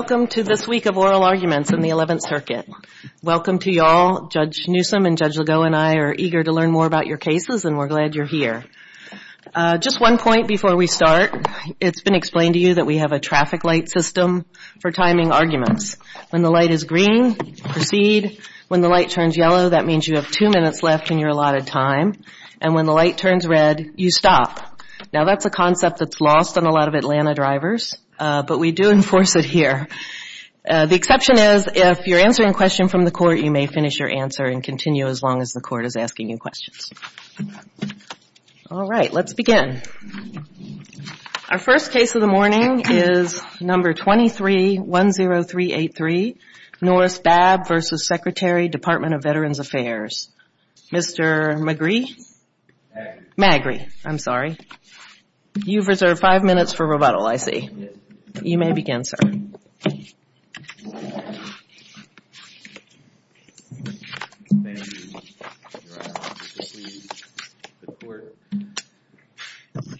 Welcome to this week of oral arguments in the 11th Circuit. Welcome to you all. Judge Newsom and Judge Legault and I are eager to learn more about your cases and we're glad you're here. Just one point before we start. It's been explained to you that we have a traffic light system for timing arguments. When the light is green, proceed. When the light turns yellow, that means you have two minutes left in your allotted time. And when the light turns red, you stop. Now that's a concept that's lost on a lot of Atlanta drivers, but we do enforce it here. The exception is if you're answering a question from the court, you may finish your answer and continue as long as the court is asking you questions. All right, let's begin. Our first case of the morning is No. 23-10383, Noris Babb v. Secretary, Department of Veterans Affairs. Mr. Magrie? Magrie, I'm sorry. You've reserved five minutes for rebuttal, I see. You may begin, sir. Thank you, Your Honor.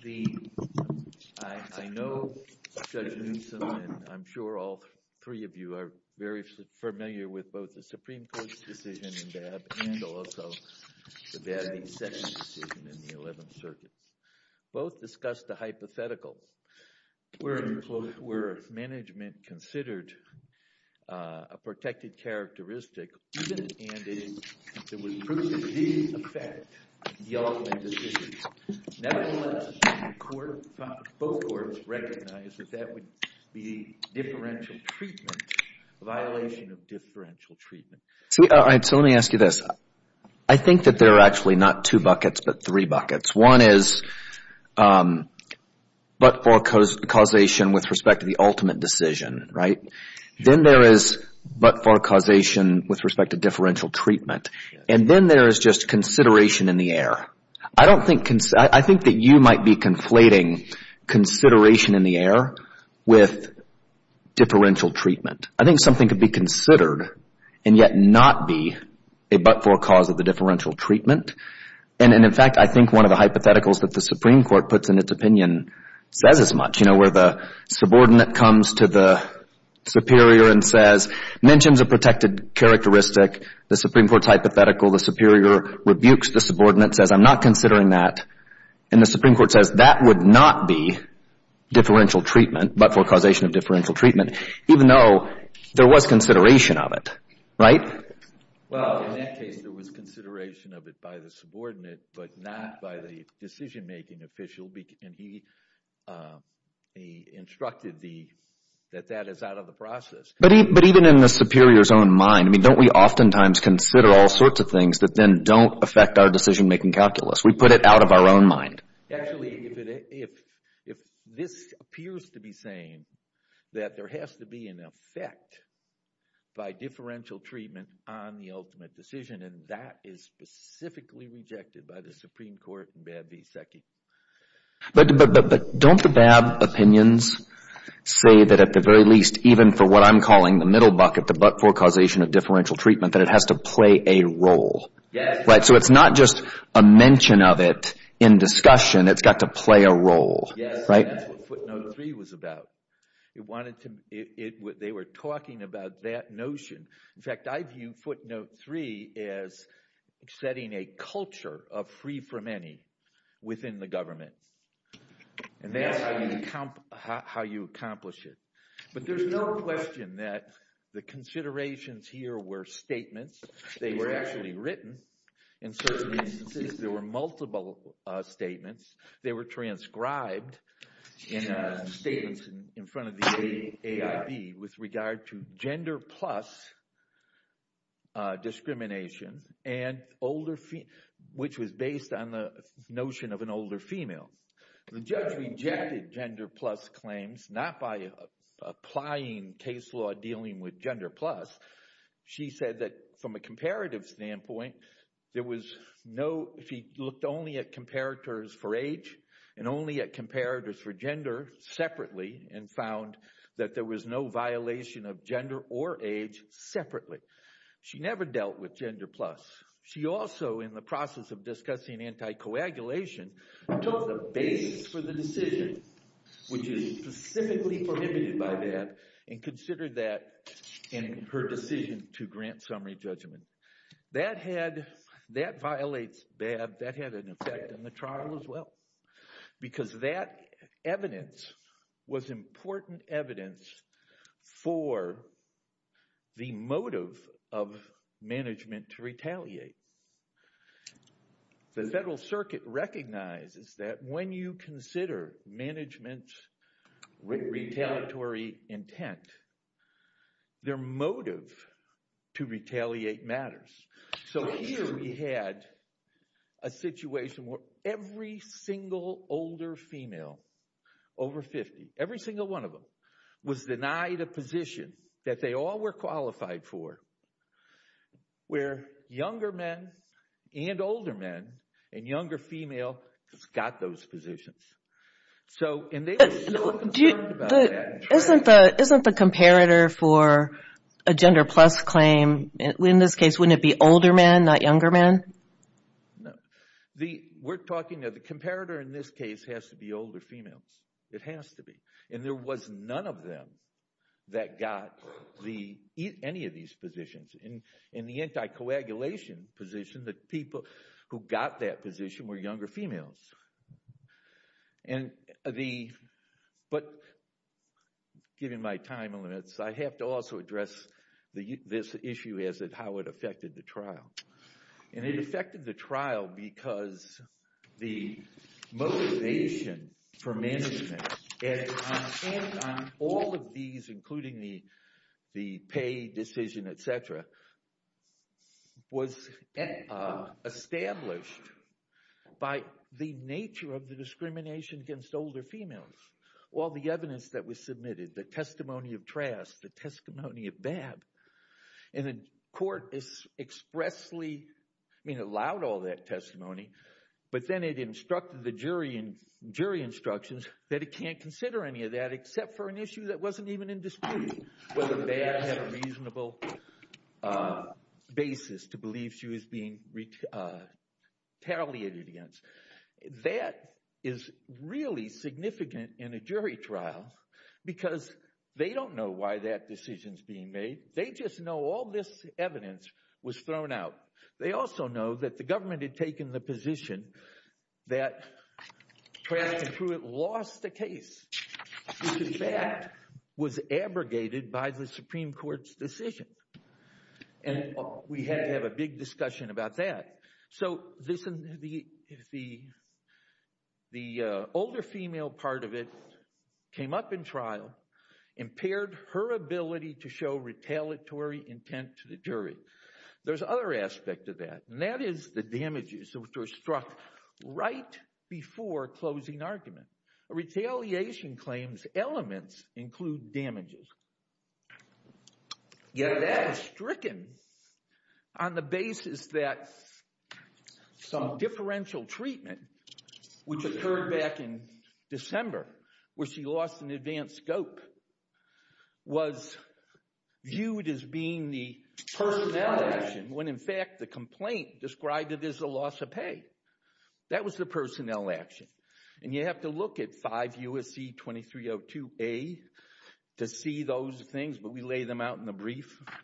I know Judge Newsom and I'm sure all three of you are very familiar with both the Supreme Court's decision in Babb and also the Babb v. Sessions decision in the 11th Circuit. Both discussed the hypothetical where management considered a protected characteristic even if it was proof of the effect of the Altman decision. Nevertheless, both courts recognized that that would be differential treatment, a violation of differential treatment. So let me ask you this. I think that there are actually not two buckets, but three buckets. One is but-for causation with respect to the ultimate decision, right? Then there is but-for causation with respect to differential treatment. And then there is just consideration in the air. I think that you might be conflating consideration in the air with differential treatment. I think something could be considered and yet not be a but-for cause of the differential treatment. And in fact, I think one of the hypotheticals that the Supreme Court puts in its opinion says as much, you know, where the subordinate comes to the superior and says, mentions a protected characteristic. The Supreme Court's hypothetical, the superior rebukes the subordinate, says I'm not considering that. And the Supreme Court says that would not be differential treatment, but-for causation of differential treatment, even though there was consideration of it, right? Well, in that case, there was consideration of it by the subordinate, but not by the decision-making official. And he instructed that that is out of the process. But even in the superior's own mind, I mean, don't we oftentimes consider all sorts of things that then don't affect our decision-making calculus? We put it out of our own mind. Actually, if this appears to be saying that there has to be an effect by differential treatment on the ultimate decision, and that is specifically rejected by the Supreme Court and Babb v. Secchi. But don't the Babb opinions say that at the very least, even for what I'm calling the middle bucket, the but-for causation of differential treatment, that it has to play a role? Yes. Right. So it's not just a mention of it in discussion. It's got to play a role. Yes. That's what footnote three was about. They were talking about that notion. In fact, I view footnote three as setting a culture of free from any within the government. And that's how you accomplish it. But there's no question that the considerations here were statements. They were actually written. In certain instances, there were multiple statements. They were transcribed in statements in front of the AIB with regard to gender plus discrimination, which was based on the notion of an older female. The judge rejected gender plus claims not by applying case law dealing with gender plus. She said that from a comparative standpoint, there was no, she looked only at comparators for age and only at comparators for gender separately, and found that there was no violation of gender or age separately. She never dealt with gender plus. She also, in the process of discussing anti-coagulation, took the basis for the decision, which is specifically prohibited by BAB, and considered that in her decision to grant summary judgment. That had, that violates BAB. That had an effect on the trial as well, because that evidence was important evidence for the motive of management to retaliate. The Federal Circuit recognizes that when you consider management's retaliatory intent, their motive to retaliate matters. So here we had a situation where every single older female over 50, every single one of them, was denied a position that they all were qualified for, where younger men and older men and younger female just got those positions. So, and they were so concerned about that. Isn't the comparator for a gender plus claim, in this case, wouldn't it be older men, not younger men? No. We're talking, the comparator in this case has to be older females. It has to be. And there was none of them that got the, any of these positions. In the anti-coagulation position, the people who got that position were younger females. And the, but given my time limits, I have to also address this issue as to how it affected the trial. And it affected the trial because the motivation for management, and on all of these, including the pay decision, et cetera, was established by the nature of the discrimination against older females. All the evidence that was submitted, the testimony of Trask, the testimony of Babb, and the court expressly, I mean, allowed all that testimony, but then it instructed the jury in jury instructions that it can't consider any of that except for an issue that wasn't even in dispute, whether Babb had a reasonable basis to believe she was being retaliated against. That is really significant in a jury trial because they don't know why that decision is being made. They just know all this evidence was thrown out. They also know that the government had taken the position that Trask and Pruitt lost the case, which in fact was abrogated by the Supreme Court's decision. And we had to have a big discussion about that. So the older female part of it came up in trial, impaired her ability to show retaliatory intent to the jury. There's other aspects of that, and that is the damages which were struck right before closing argument. Retaliation claims elements include damages. Yet that is stricken on the basis that some differential treatment, which occurred back in December, where she lost an advanced scope, was viewed as being the personnel action, when in fact the complaint described it as a loss of pay. That was the personnel action. And you have to look at 5 U.S.C. 2302A to see those things, but we lay them out in the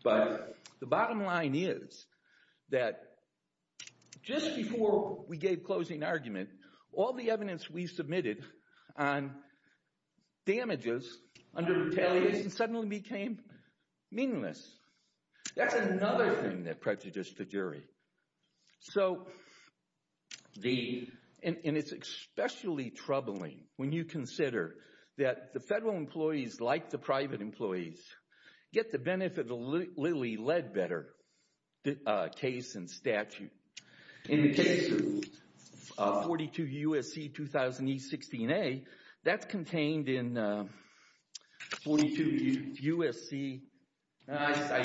But the bottom line is that just before we gave closing argument, all the evidence we submitted on damages under retaliation suddenly became meaningless. That's another thing that prejudiced the jury. So, and it's especially troubling when you consider that the federal employees, like the private employees, get the benefit of the Lilly Ledbetter case and statute. In the case of 42 U.S.C. 2000E 16A, that's contained in 42 U.S.C. In fact, I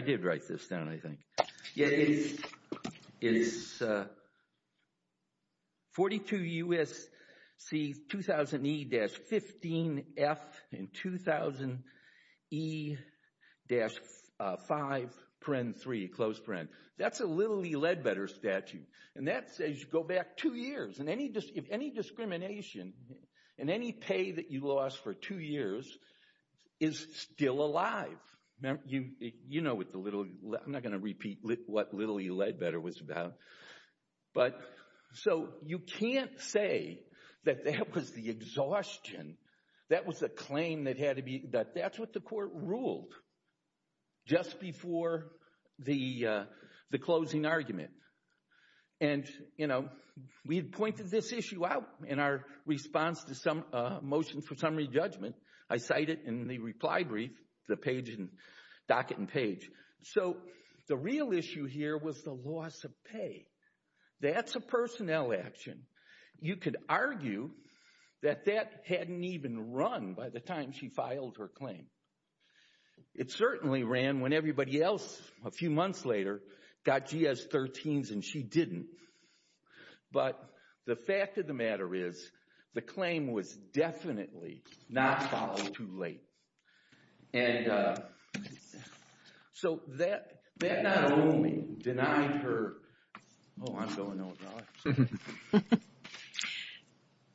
did write this down, I think. It is 42 U.S.C. 2000E-15F and 2000E-5-3. That's a Lilly Ledbetter statute. And that says you go back two years, and any discrimination, and any pay that you lost for two years is still alive. You know what the Lilly, I'm not going to repeat what Lilly Ledbetter was about. But, so you can't say that that was the exhaustion. That was a claim that had to be, that that's what the court ruled. Just before the closing argument. And, you know, we had pointed this issue out in our response to some motion for summary judgment. I cite it in the reply brief, the page, the docket and page. So, the real issue here was the loss of pay. That's a personnel action. You could argue that that hadn't even run by the time she filed her claim. It certainly ran when everybody else, a few months later, got GS-13s and she didn't. But, the fact of the matter is, the claim was definitely not filed too late. And, so that not only denied her, oh, I'm going over.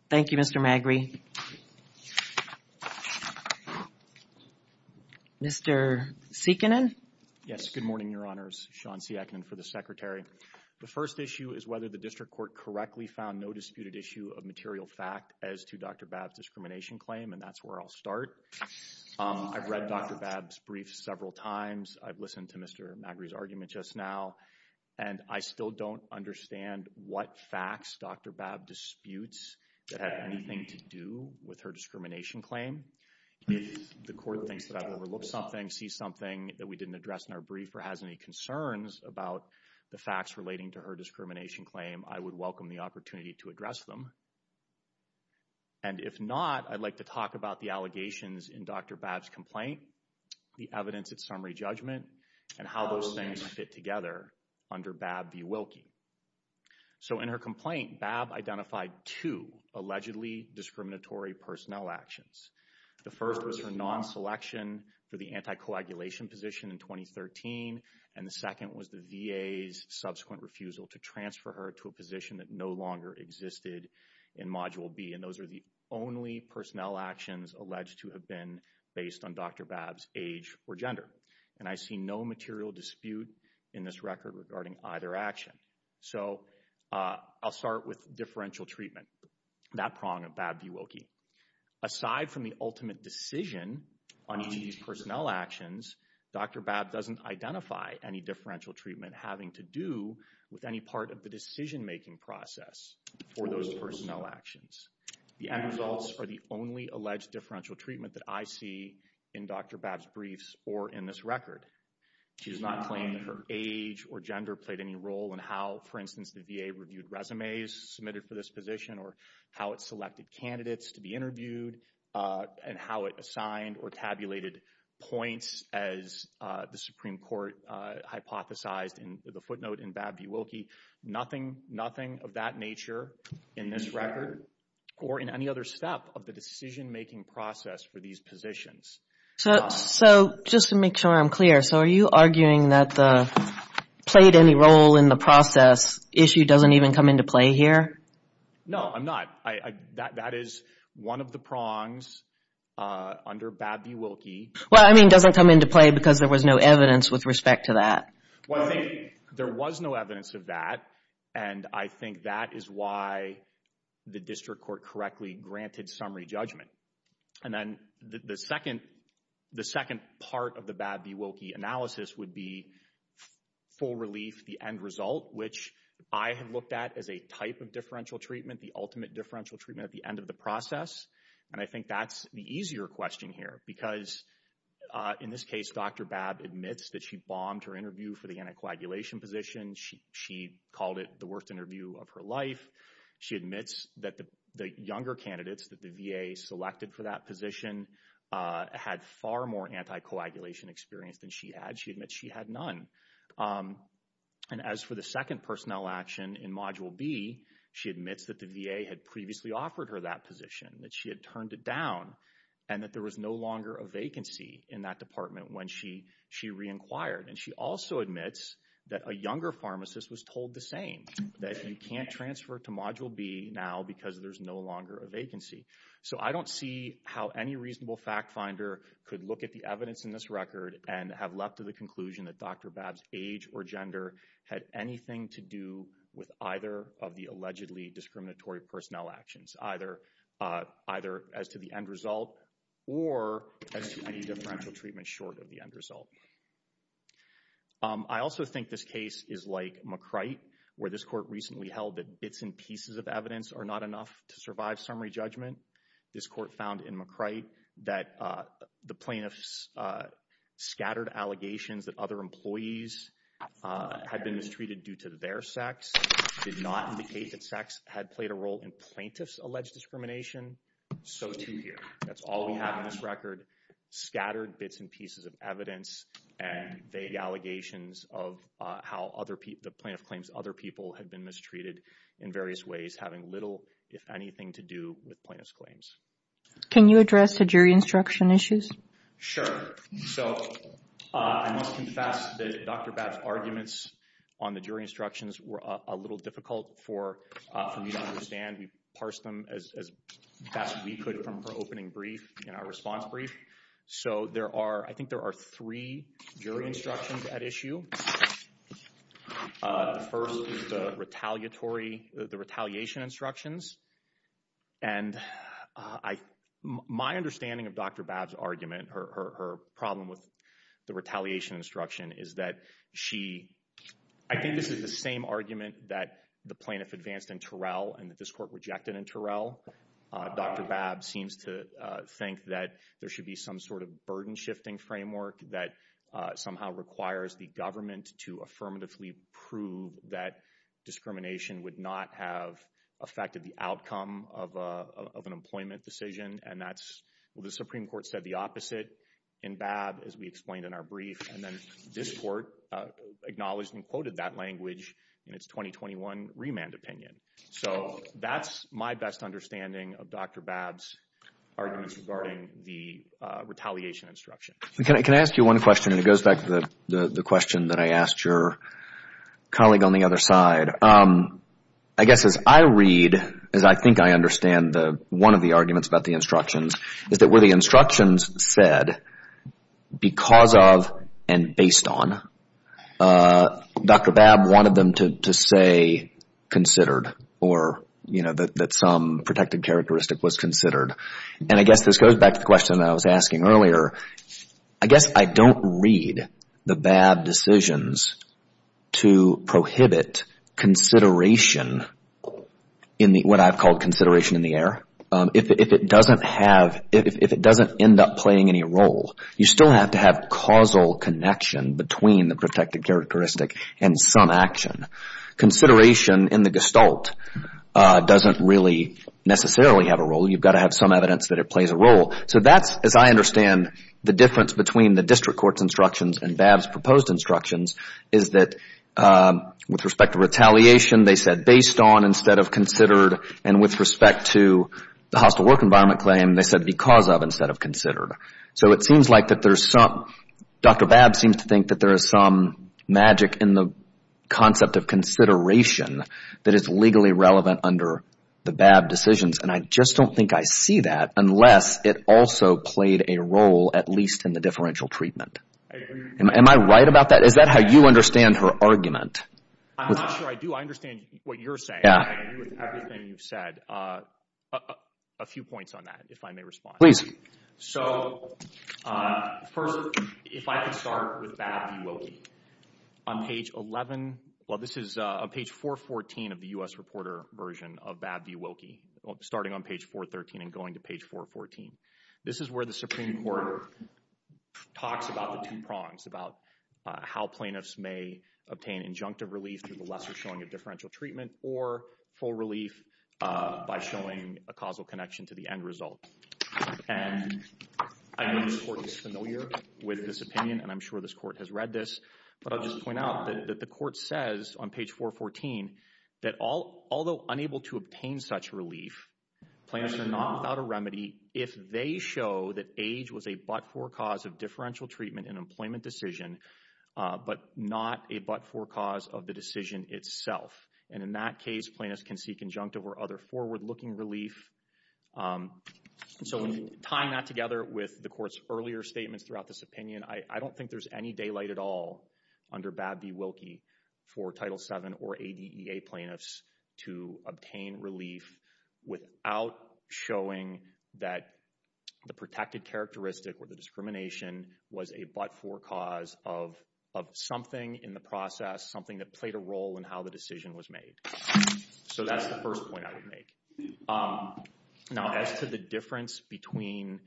Thank you, Mr. Magrie. Mr. Sieckanen? Yes, good morning, Your Honors. Sean Sieckanen for the Secretary. The first issue is whether the district court correctly found no disputed issue of material fact as to Dr. Babb's discrimination claim. And, that's where I'll start. I've read Dr. Babb's brief several times. I've listened to Mr. Magrie's argument just now. And, I still don't understand what facts Dr. Babb disputes that have anything to do with her discrimination claim. If the court thinks that I've overlooked something, see something that we didn't address in our brief, or has any concerns about the facts relating to her discrimination claim, I would welcome the opportunity to address them. And, if not, I'd like to talk about the allegations in Dr. Babb's complaint, the evidence at summary judgment, and how those things fit together under Babb v. Wilkie. So, in her complaint, Babb identified two allegedly discriminatory personnel actions. The first was her non-selection for the anti-coagulation position in 2013. And, the second was the VA's subsequent refusal to transfer her to a position that no longer existed in Module B. And, those are the only personnel actions alleged to have been based on Dr. Babb's age or gender. And, I see no material dispute in this record regarding either action. So, I'll start with differential treatment, that prong of Babb v. Wilkie. Aside from the ultimate decision on each of these personnel actions, Dr. Babb doesn't identify any differential treatment having to do with any part of the decision making process for those personnel actions. The end results are the only alleged differential treatment that I see in Dr. Babb's briefs or in this record. She does not claim that her age or gender played any role in how, for instance, the VA reviewed resumes submitted for this position, or how it selected candidates to be interviewed, and how it assigned or tabulated points as the Supreme Court hypothesized in the footnote in Babb v. Wilkie. Nothing of that nature in this record or in any other step of the decision making process for these positions. So, just to make sure I'm clear. So, are you arguing that the played any role in the process issue doesn't even come into play here? No, I'm not. That is one of the prongs under Babb v. Wilkie. Well, I mean, doesn't come into play because there was no evidence with respect to that. Well, I think there was no evidence of that. And I think that is why the district court correctly granted summary judgment. And then the second part of the Babb v. Wilkie analysis would be full relief, the end result, which I have looked at as a type of differential treatment, the ultimate differential treatment at the end of the process. And I think that's the easier question here. Because in this case, Dr. Babb admits that she bombed her interview for the anticoagulation position. She called it the worst interview of her life. She admits that the younger candidates that the VA selected for that position had far more anticoagulation experience than she had. She admits she had none. And as for the second personnel action in Module B, she admits that the VA had previously offered her that position, that she had turned it down, and that there was no longer a vacancy in that department when she re-inquired. And she also admits that a younger pharmacist was told the same, that you can't transfer to Module B now because there's no longer a vacancy. So I don't see how any reasonable fact finder could look at the evidence in this record and have left to the conclusion that Dr. Babb's age or gender had anything to do with either of the allegedly discriminatory personnel actions, either as to the end result or as to any differential treatment short of the end result. I also think this case is like McCrite, where this court recently held that bits and pieces of evidence are not enough to survive summary judgment. This court found in McCrite that the plaintiff's scattered allegations that other employees had been mistreated due to their sex did not indicate that sex had played a role in plaintiff's alleged discrimination. So too here. That's all we have in this record, scattered bits and pieces of evidence and vague allegations of how the plaintiff claims other people had been mistreated in various ways having little, if anything, to do with plaintiff's claims. Can you address the jury instruction issues? Sure. So I must confess that Dr. Babb's arguments on the jury instructions were a little difficult for me to understand. We parsed them as best we could from her opening brief and our response brief. So there are, I think there are three jury instructions at issue. The first is the retaliatory, the retaliation instructions. And my understanding of Dr. Babb's argument, her problem with the retaliation instruction, is that she, I think this is the same argument that the plaintiff advanced in Terrell and that this court rejected in Terrell. Dr. Babb seems to think that there should be some sort of burden shifting framework that somehow requires the government to affirmatively prove that discrimination would not have affected the outcome of an employment decision. And that's what the Supreme Court said the opposite in Babb, as we explained in our brief. And then this court acknowledged and quoted that language in its 2021 remand opinion. So that's my best understanding of Dr. Babb's arguments regarding the retaliation instruction. Can I ask you one question? And it goes back to the question that I asked your colleague on the other side. I guess as I read, as I think I understand one of the arguments about the instructions, is that where the instructions said, because of and based on, Dr. Babb wanted them to say considered or, you know, that some protected characteristic was considered. And I guess this goes back to the question that I was asking earlier. I guess I don't read the Babb decisions to prohibit consideration in what I've called consideration in the air. If it doesn't have, if it doesn't end up playing any role, you still have to have causal connection between the protected characteristic and some action. Consideration in the gestalt doesn't really necessarily have a role. You've got to have some evidence that it plays a role. So that's, as I understand, the difference between the district court's instructions and Babb's proposed instructions, is that with respect to retaliation, they said based on instead of considered. And with respect to the hostile work environment claim, they said because of instead of considered. So it seems like that there's some, Dr. Babb seems to think that there is some magic in the concept of consideration that is legally relevant under the Babb decisions. And I just don't think I see that unless it also played a role at least in the differential treatment. Am I right about that? Is that how you understand her argument? I'm not sure I do. I understand what you're saying. I agree with everything you've said. A few points on that, if I may respond. So first, if I could start with Babb v. Wilkie. On page 11, well this is page 414 of the U.S. reporter version of Babb v. Wilkie, starting on page 413 and going to page 414. This is where the Supreme Court talks about the two prongs, about how plaintiffs may obtain injunctive relief through the lesser showing of differential treatment or full relief by showing a causal connection to the end result. And I know this court is familiar with this opinion and I'm sure this court has read this, but I'll just point out that the court says on page 414 that although unable to obtain such relief, plaintiffs are not without a remedy if they show that age was a but-for cause of differential treatment in an employment decision, but not a but-for cause of the decision itself. And in that case, plaintiffs can seek injunctive or other forward-looking relief. So tying that together with the court's earlier statements throughout this opinion, I don't think there's any daylight at all under Babb v. Wilkie for Title VII or ADEA plaintiffs to obtain relief without showing that the protected characteristic or the discrimination was a but-for cause of something in the process, something that played a role in how the decision was made. So that's the first point I would make. Now, as to the difference between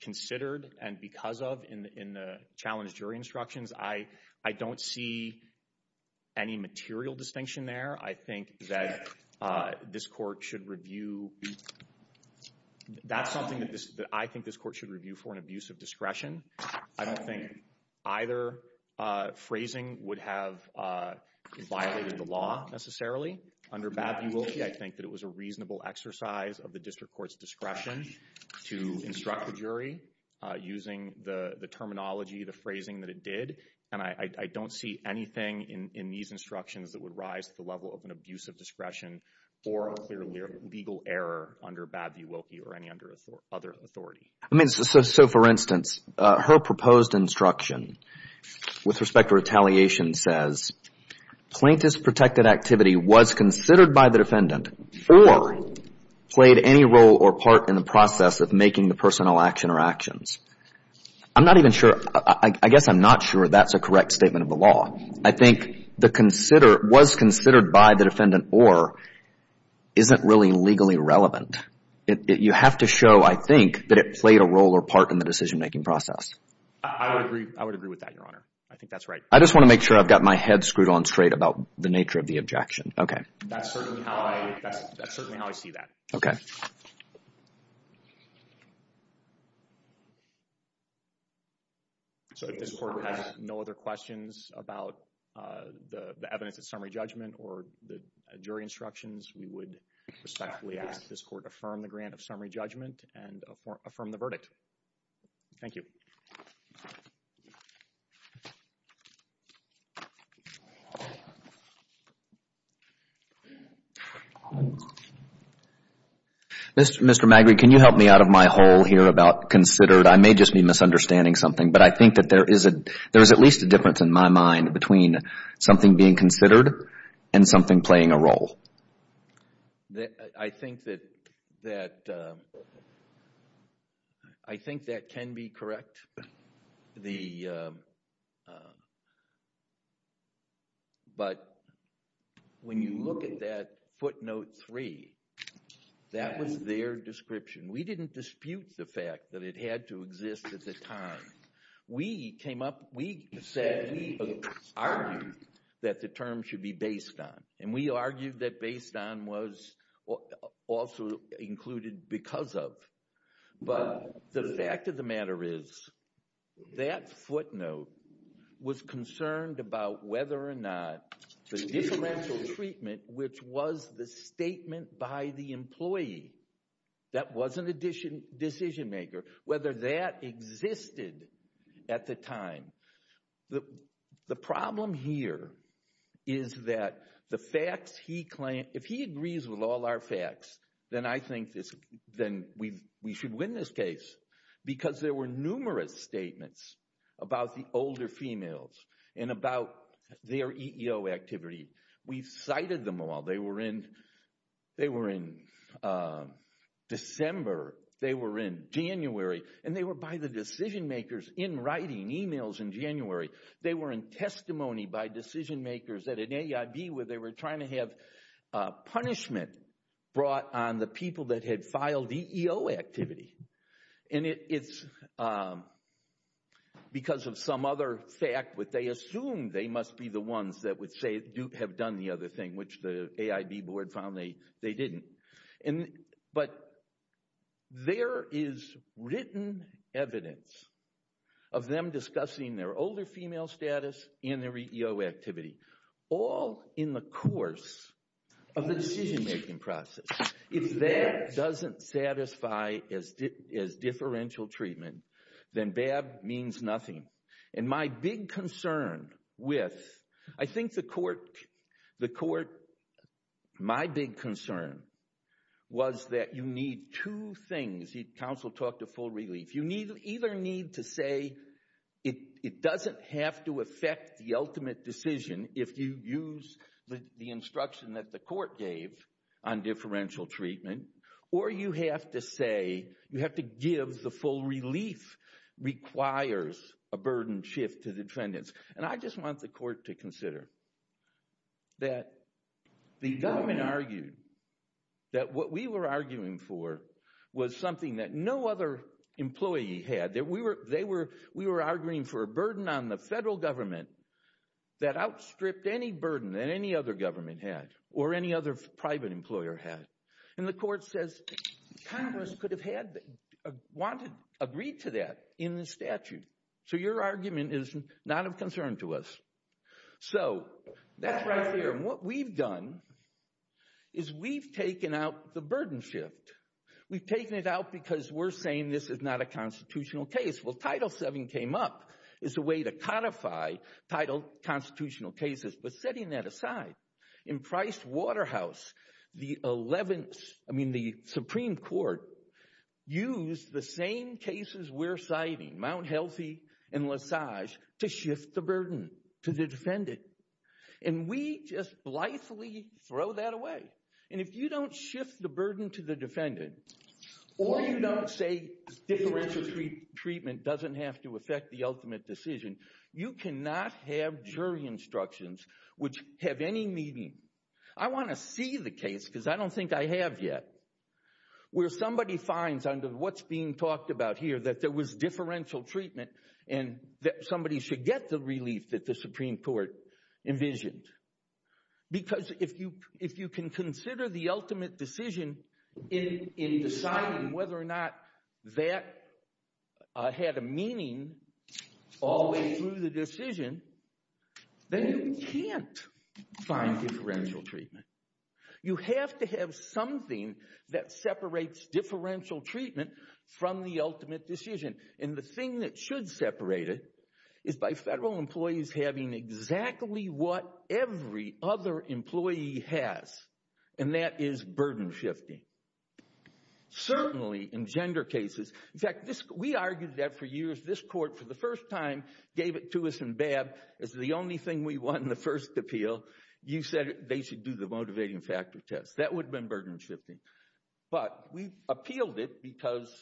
considered and because of in the challenge jury instructions, I don't see any material distinction there. I think that this court should review... That's something that I think this court should review for an abuse of discretion. I don't think either phrasing would have violated the law necessarily. Under Babb v. Wilkie, I think that it was a reasonable exercise of the district court's discretion to instruct the jury using the terminology, the phrasing that it did, and I don't see anything in these instructions that would rise to the level of an abuse of discretion or a clear legal error under Babb v. Wilkie or any other authority. I mean, so for instance, her proposed instruction with respect to retaliation says, plaintiff's protected activity was considered by the defendant or played any role or part in the process of making the personal action or actions. I'm not even sure... I guess I'm not sure that's a correct statement of the law. I think the consider... was considered by the defendant or isn't really legally relevant. You have to show, I think, that it played a role or part in the decision-making process. I would agree with that, Your Honor. I think that's right. I just want to make sure I've got my head screwed on straight about the nature of the objection. Okay. That's certainly how I see that. Okay. So if this court has no other questions about the evidence of summary judgment or the jury instructions, we would respectfully ask this court to affirm the grant of summary judgment and affirm the verdict. Thank you. Mr. Magritte, can you help me out of my hole here about considered? I may just be misunderstanding something, but I think that there is at least a difference in my mind between something being considered and something playing a role. I think that... I think that can be correct. The... But when you're talking about when you look at that footnote 3, that was their description. We didn't dispute the fact that it had to exist at the time. We came up... We said... We argued that the term should be based on, and we argued that based on was also included because of. But the fact of the matter is that footnote was concerned about whether or not the differential treatment, which was the statement by the employee that was a decision-maker, whether that existed at the time. The problem here is that the facts he claimed... If he agrees with all our facts, then I think we should win this case because there were numerous statements about the older females and about their EEO activity. We've cited them all. They were in December. They were in January. And they were by the decision-makers in writing emails in January. They were in testimony by decision-makers at an AIB where they were trying to have punishment brought on the people that had filed EEO activity. And it's because of some other fact that they assumed they must be the ones that would have done the other thing, which the AIB board found they didn't. But there is written evidence of them discussing their older female status and their EEO activity all in the course of the decision-making process. If that doesn't satisfy as differential treatment, then BAB means nothing. And my big concern with... I think the court... My big concern was that you need two things. Counsel talked of full relief. You either need to say it doesn't have to affect the ultimate decision if you use the instruction that the court gave on differential treatment, or you have to give the full relief requires a burden shift to defendants. And I just want the court to consider that the government argued that what we were arguing for was something that no other employee had. We were arguing for a burden on the federal government that outstripped any burden that any other government had or any other private employer had. And the court says Congress could have agreed to that in the statute. So your argument is not of concern to us. So that's right there. And what we've done is we've taken out the burden shift. We've taken it out because we're saying this is not a constitutional case. Well, Title VII came up as a way to codify title constitutional cases. But setting that aside, in Price Waterhouse the 11th, I mean the Supreme Court used the same cases we're citing, Mount Healthy and Lesage, to shift the burden to the defendant. And we just blithely throw that away. And if you don't shift the burden to the defendant or you don't say differential treatment doesn't have to affect the ultimate decision, you cannot have jury instructions which have any meaning. I want to see the case, because I don't think I have yet, where somebody finds under what's being talked about here that there was differential treatment and that somebody should get the relief that the Supreme Court envisioned. Because if you can consider the ultimate decision in deciding whether or not that had a meaning all the way to the decision, then you can't find differential treatment. You have to have something that separates differential treatment from the ultimate decision. And the thing that should separate it is by federal employees having exactly what every other employee has. And that is burden shifting. Certainly in gender cases, in fact, we argued that for years this court, for the first time, gave it to us in Babb, it's the only thing we want in the first appeal. You said they should do the motivating factor test. That would have been burden shifting. But we appealed it because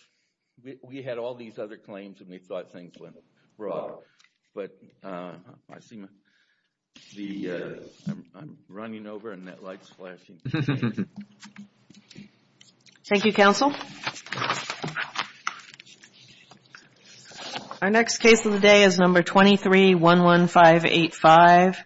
we had all these other claims and we thought things went wrong. I see I'm running over and that light's flashing. Thank you, counsel. Our next case of the day is number 23, 11585.